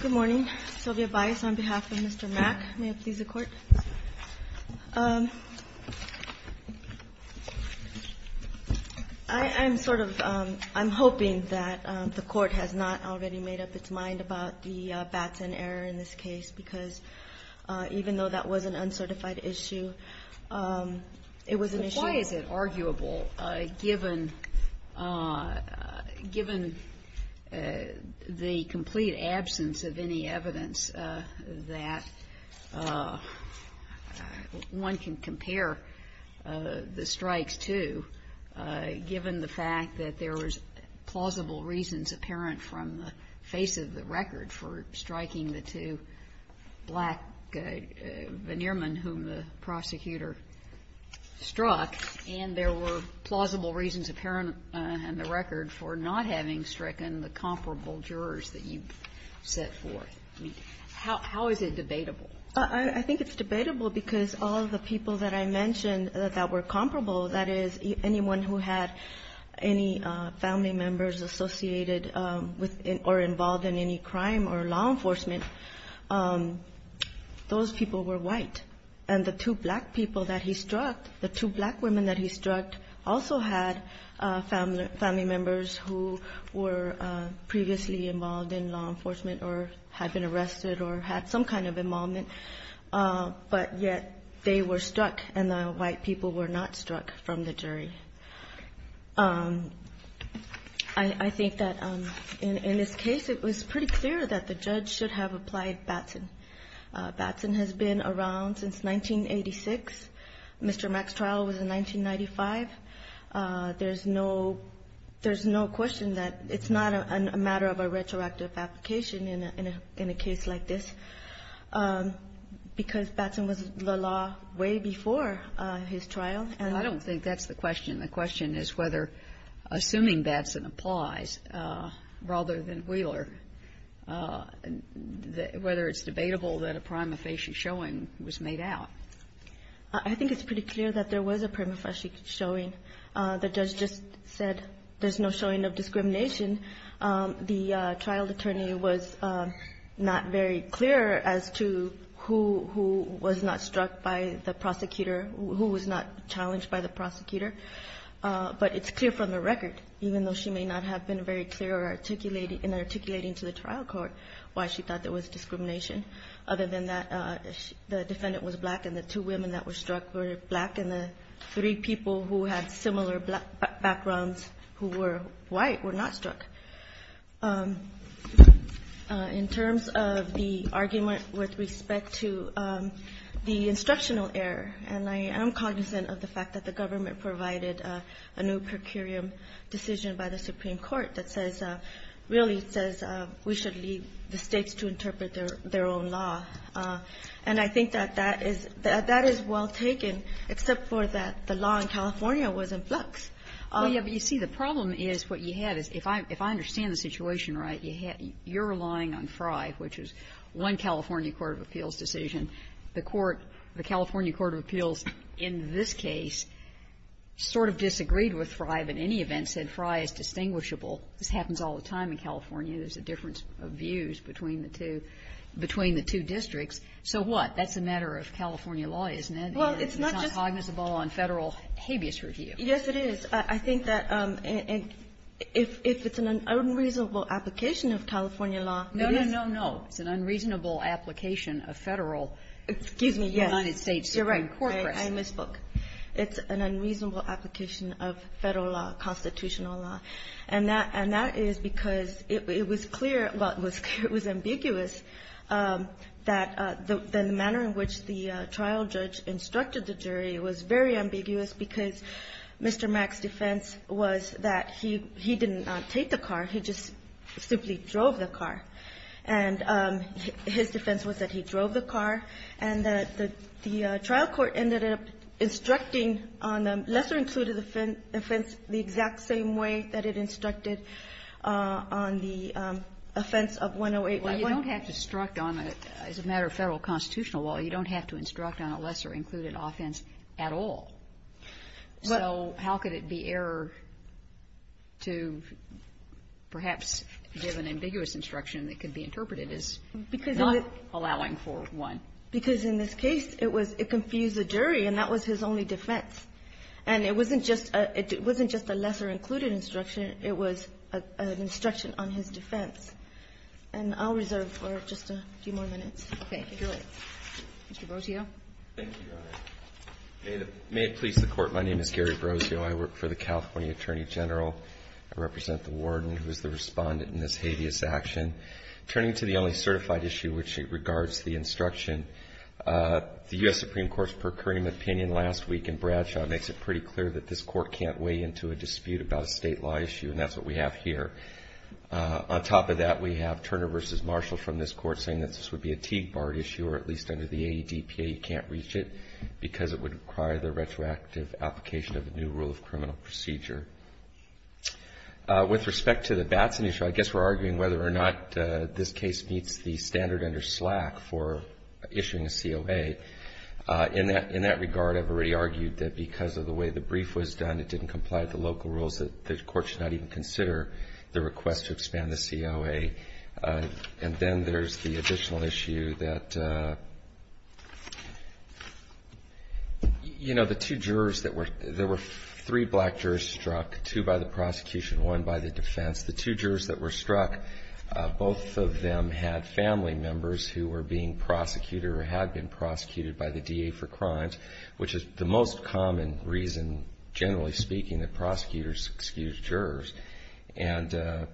Good morning. Sylvia Bias on behalf of Mr. Mack. May it please the Court. I'm hoping that the Court has not already made up its mind about the Batson error in this case because even though that was an uncertified issue, it was an issue... The complete absence of any evidence that one can compare the strikes to, given the fact that there was plausible reasons apparent from the face of the record for striking the two black veneermen whom the prosecutor struck, and there were plausible reasons apparent from the record for not having stricken the comparable jurors that you've set forth. I mean, how is it debatable? Bias I think it's debatable because all of the people that I mentioned that were comparable, that is, anyone who had any family members associated with or involved in any crime or law enforcement, those people were white. And the two black people that he struck, the two black women that he struck also had family members who were previously involved in law enforcement or had been arrested or had some kind of involvement, but yet they were struck and the white people were not struck from the jury. I think that in this case it was pretty clear that the judge should have applied Batson. Batson has been around since 1986. Mr. Mack's trial was in 1995. There's no question that it's not a matter of a retroactive application in a case like this, because Batson was the law way before his trial. I don't think that's the question. The question is whether, assuming Batson applies rather than Wheeler, whether it's debatable that a prima facie showing was made out. I think it's pretty clear that there was a prima facie showing. The judge just said there's no showing of discrimination. The trial attorney was not very clear as to who was not struck by the prosecutor, who was not challenged by the prosecutor. But it's clear from the record, even though she may not have been very clear in articulating to the trial court why she thought there was discrimination, other than that the defendant was black and the two women that were struck were black, and the three people who had similar backgrounds who were white were not struck. In terms of the argument with respect to the instructional error, and I am cognizant of the fact that the government provided a new per curiam decision by the Supreme Court that says, really says we should leave the States to interpret their own law. And I think that that is well taken, except for that the law in California was in flux. Well, yes, but you see, the problem is, what you had is, if I understand the situation right, you're relying on Frye, which is one California court of appeals decision. The court, the California court of appeals in this case sort of disagreed with Frye, but in any event said Frye is distinguishable. This happens all the time in California. There's a difference of views between the two, between the two districts. So what? That's a matter of California law, isn't it? It's not cognizable on Federal habeas review. Yes, it is. I think that if it's an unreasonable application of California law, it is. No, no, no, no. It's an unreasonable application of Federal, excuse me, United States Supreme Court precedent. I misspoke. It's an unreasonable application of Federal law, constitutional law. And that is because it was clear, well, it was ambiguous, that the manner in which the trial judge instructed the jury was very ambiguous because Mr. Mack's defense was that he didn't take the car, he just simply drove the car. And his defense was that he drove the car, and that the trial court ended up instructing on a lesser-included offense the exact same way that it instructed on the offense of 108 by 180. Well, you don't have to instruct on a, as a matter of Federal constitutional law, you don't have to instruct on a lesser-included offense at all. So how could it be error to perhaps give an ambiguous instruction that could be interpreted as not allowing for one? Because in this case, it was — it confused the jury, and that was his only defense. And it wasn't just a — it wasn't just a lesser-included instruction. It was an instruction on his defense. And I'll reserve for just a few more minutes. Mr. Brotillo. Thank you, Your Honor. May it please the Court, my name is Gary Brotillo. I work for the California Attorney General. I represent the warden, who is the respondent in this habeas action. Turning to the only certified issue, which regards the instruction, the U.S. Supreme Court's per curiam opinion last week in Bradshaw makes it pretty clear that this Court can't weigh into a dispute about a state law issue, and that's what we have here. On top of that, we have Turner v. Marshall from this Court saying that this would be a Teague Bar issue, or at least under the AEDPA, you can't reach it. Because it would require the retroactive application of a new rule of criminal procedure. With respect to the Batson issue, I guess we're arguing whether or not this case meets the standard under SLAC for issuing a COA. In that regard, I've already argued that because of the way the brief was done, it didn't comply with the local rules, that the Court should not even consider the request to expand the COA. And then there's the additional issue that, you know, the two jurors that were, there were three black jurors struck, two by the prosecution, one by the defense. The two jurors that were struck, both of them had family members who were being prosecuted or had been prosecuted by the DA for crimes, which is the most common reason, generally speaking, that prosecutors excuse jurors. And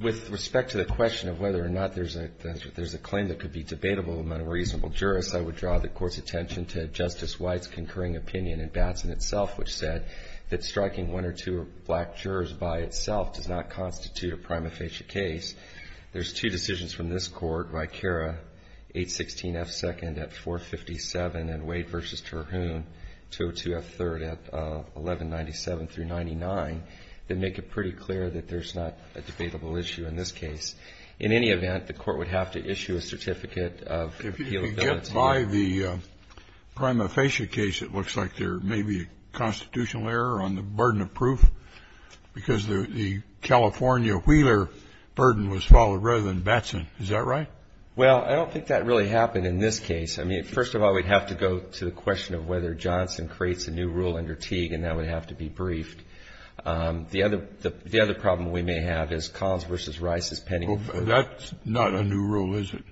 with respect to the question of whether or not there's a claim that could be debatable among a reasonable jurist, I would draw the Court's attention to Justice White's concurring opinion in Batson itself, which said that striking one or two black jurors by itself does not constitute a prima facie case. There's two decisions from this Court, Vicara, 816F2nd at 457, and Wade versus Batson, that make it pretty clear that there's not a debatable issue in this case. In any event, the Court would have to issue a certificate of appealability. If you get by the prima facie case, it looks like there may be a constitutional error on the burden of proof, because the California Wheeler burden was followed rather than Batson, is that right? Well, I don't think that really happened in this case. I mean, first of all, we'd have to go to the question of whether Johnson creates a new rule under Teague, and that would have to be briefed. The other problem we may have is Collins v. Rice's pending proof. That's not a new rule, is it?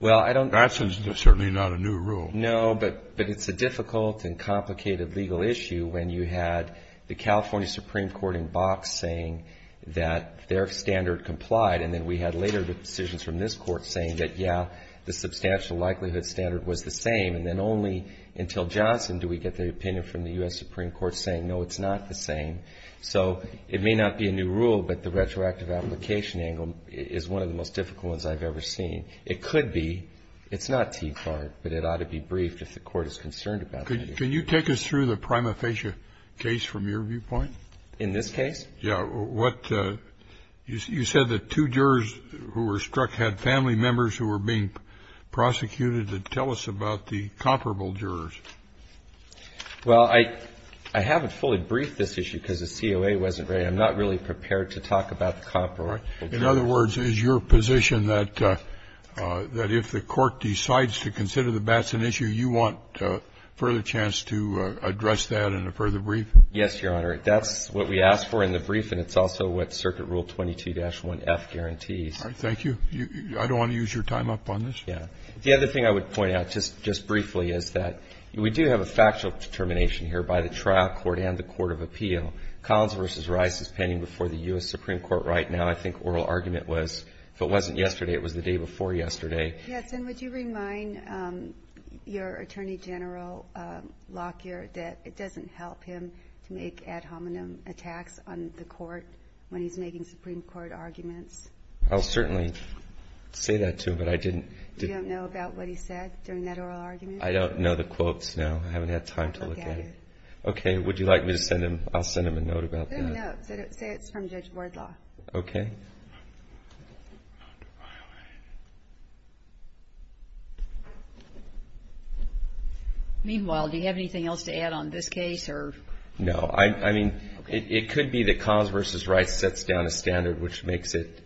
Well, I don't think so. Batson's certainly not a new rule. No, but it's a difficult and complicated legal issue when you had the California Supreme Court in box saying that their standard complied, and then we had later decisions from this Court saying that, yeah, the substantial likelihood standard was the same, and then only until Johnson do we get the opinion from the U.S. Supreme Court saying, no, it's not the same. So it may not be a new rule, but the retroactive application angle is one of the most difficult ones I've ever seen. It could be. It's not Teague-Bart, but it ought to be briefed if the Court is concerned about it. Can you take us through the prima facie case from your viewpoint? In this case? Yeah. What you said, the two jurors who were struck had family members who were being prosecuted. Tell us about the comparable jurors. Well, I haven't fully briefed this issue because the COA wasn't ready. I'm not really prepared to talk about the comparable jurors. In other words, is your position that if the Court decides to consider the Batson issue, you want further chance to address that in a further brief? Yes, Your Honor. That's what we asked for in the brief, and it's also what Circuit Rule 22-1F guarantees. All right. Thank you. I don't want to use your time up on this. Yeah. The other thing I would point out just briefly is that we do have a factual determination here by the trial court and the court of appeal. Collins v. Rice is pending before the U.S. Supreme Court right now. I think oral argument was, if it wasn't yesterday, it was the day before yesterday. Yes, and would you remind your Attorney General, Lockyer, that it doesn't help him to make ad hominem attacks on the Court when he's making Supreme Court arguments? I'll certainly say that to him, but I didn't. You don't know about what he said during that oral argument? I don't know the quotes now. I haven't had time to look at it. Okay. Would you like me to send him? I'll send him a note about that. Send him a note. Say it's from Judge Wardlaw. Okay. Meanwhile, do you have anything else to add on this case or? No. I mean, it could be that Collins v. Rice sets down a standard which makes it,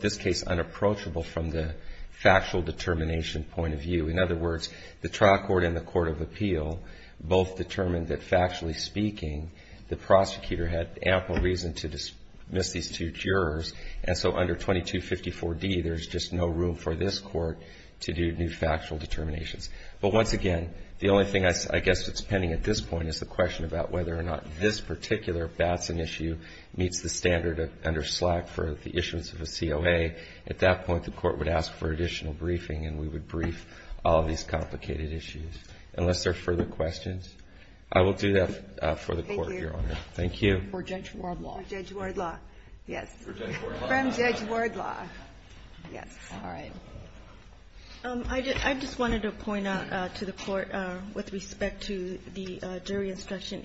this case, unapproachable from the factual determination point of view. In other words, the trial court and the court of appeal both determined that, factually speaking, the prosecutor had ample reason to dismiss these two jurors. And so under 2254D, there's just no room for this court to do new factual determinations. But once again, the only thing I guess that's pending at this point is the question about whether or not this particular Batson issue meets the standard under I will do that for the court, Your Honor Thank you. For Judge Wardlaw. Judge Wardlaw, yes. From Judge Wardlaw. Yes, all right. I just wanted to point out to the court, with respect to the jury instruction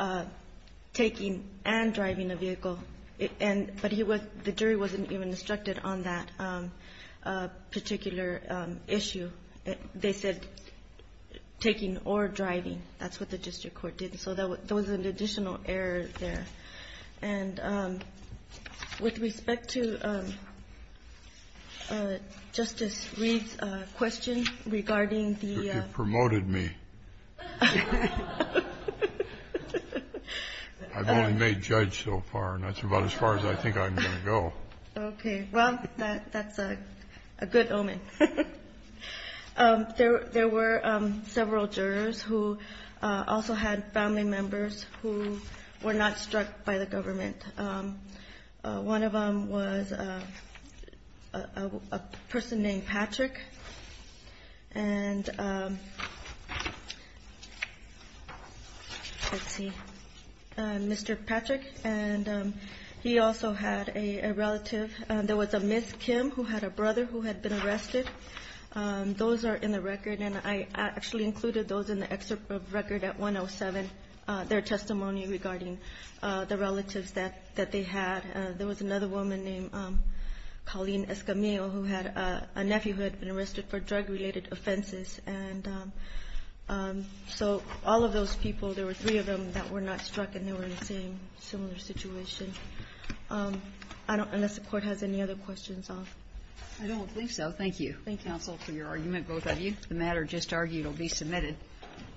on taking and driving a vehicle, but the jury wasn't even instructed on that particular issue. They said taking or driving, that's what the district court did, so there was an additional error there. And with respect to Justice Reed's question regarding the You promoted me. I've only made judge so far, and that's about as far as I think I'm going to go. Okay. Well, that's a good omen. There were several jurors who also had family members who were not struck by the government. One of them was a person named Patrick. And let's see. Mr. Patrick. And he also had a relative. There was a Miss Kim who had a brother who had been arrested. Those are in the record, and I actually included those in the excerpt of record at 107, their testimony regarding the relatives that they had. There was another woman named Colleen Escamillo who had a nephew who had been arrested for drug-related offenses. And so all of those people, there were three of them that were not struck, and they were in the same similar situation. Unless the court has any other questions. I don't believe so. Thank you, counsel, for your argument. Both of you. The matter just argued will be submitted.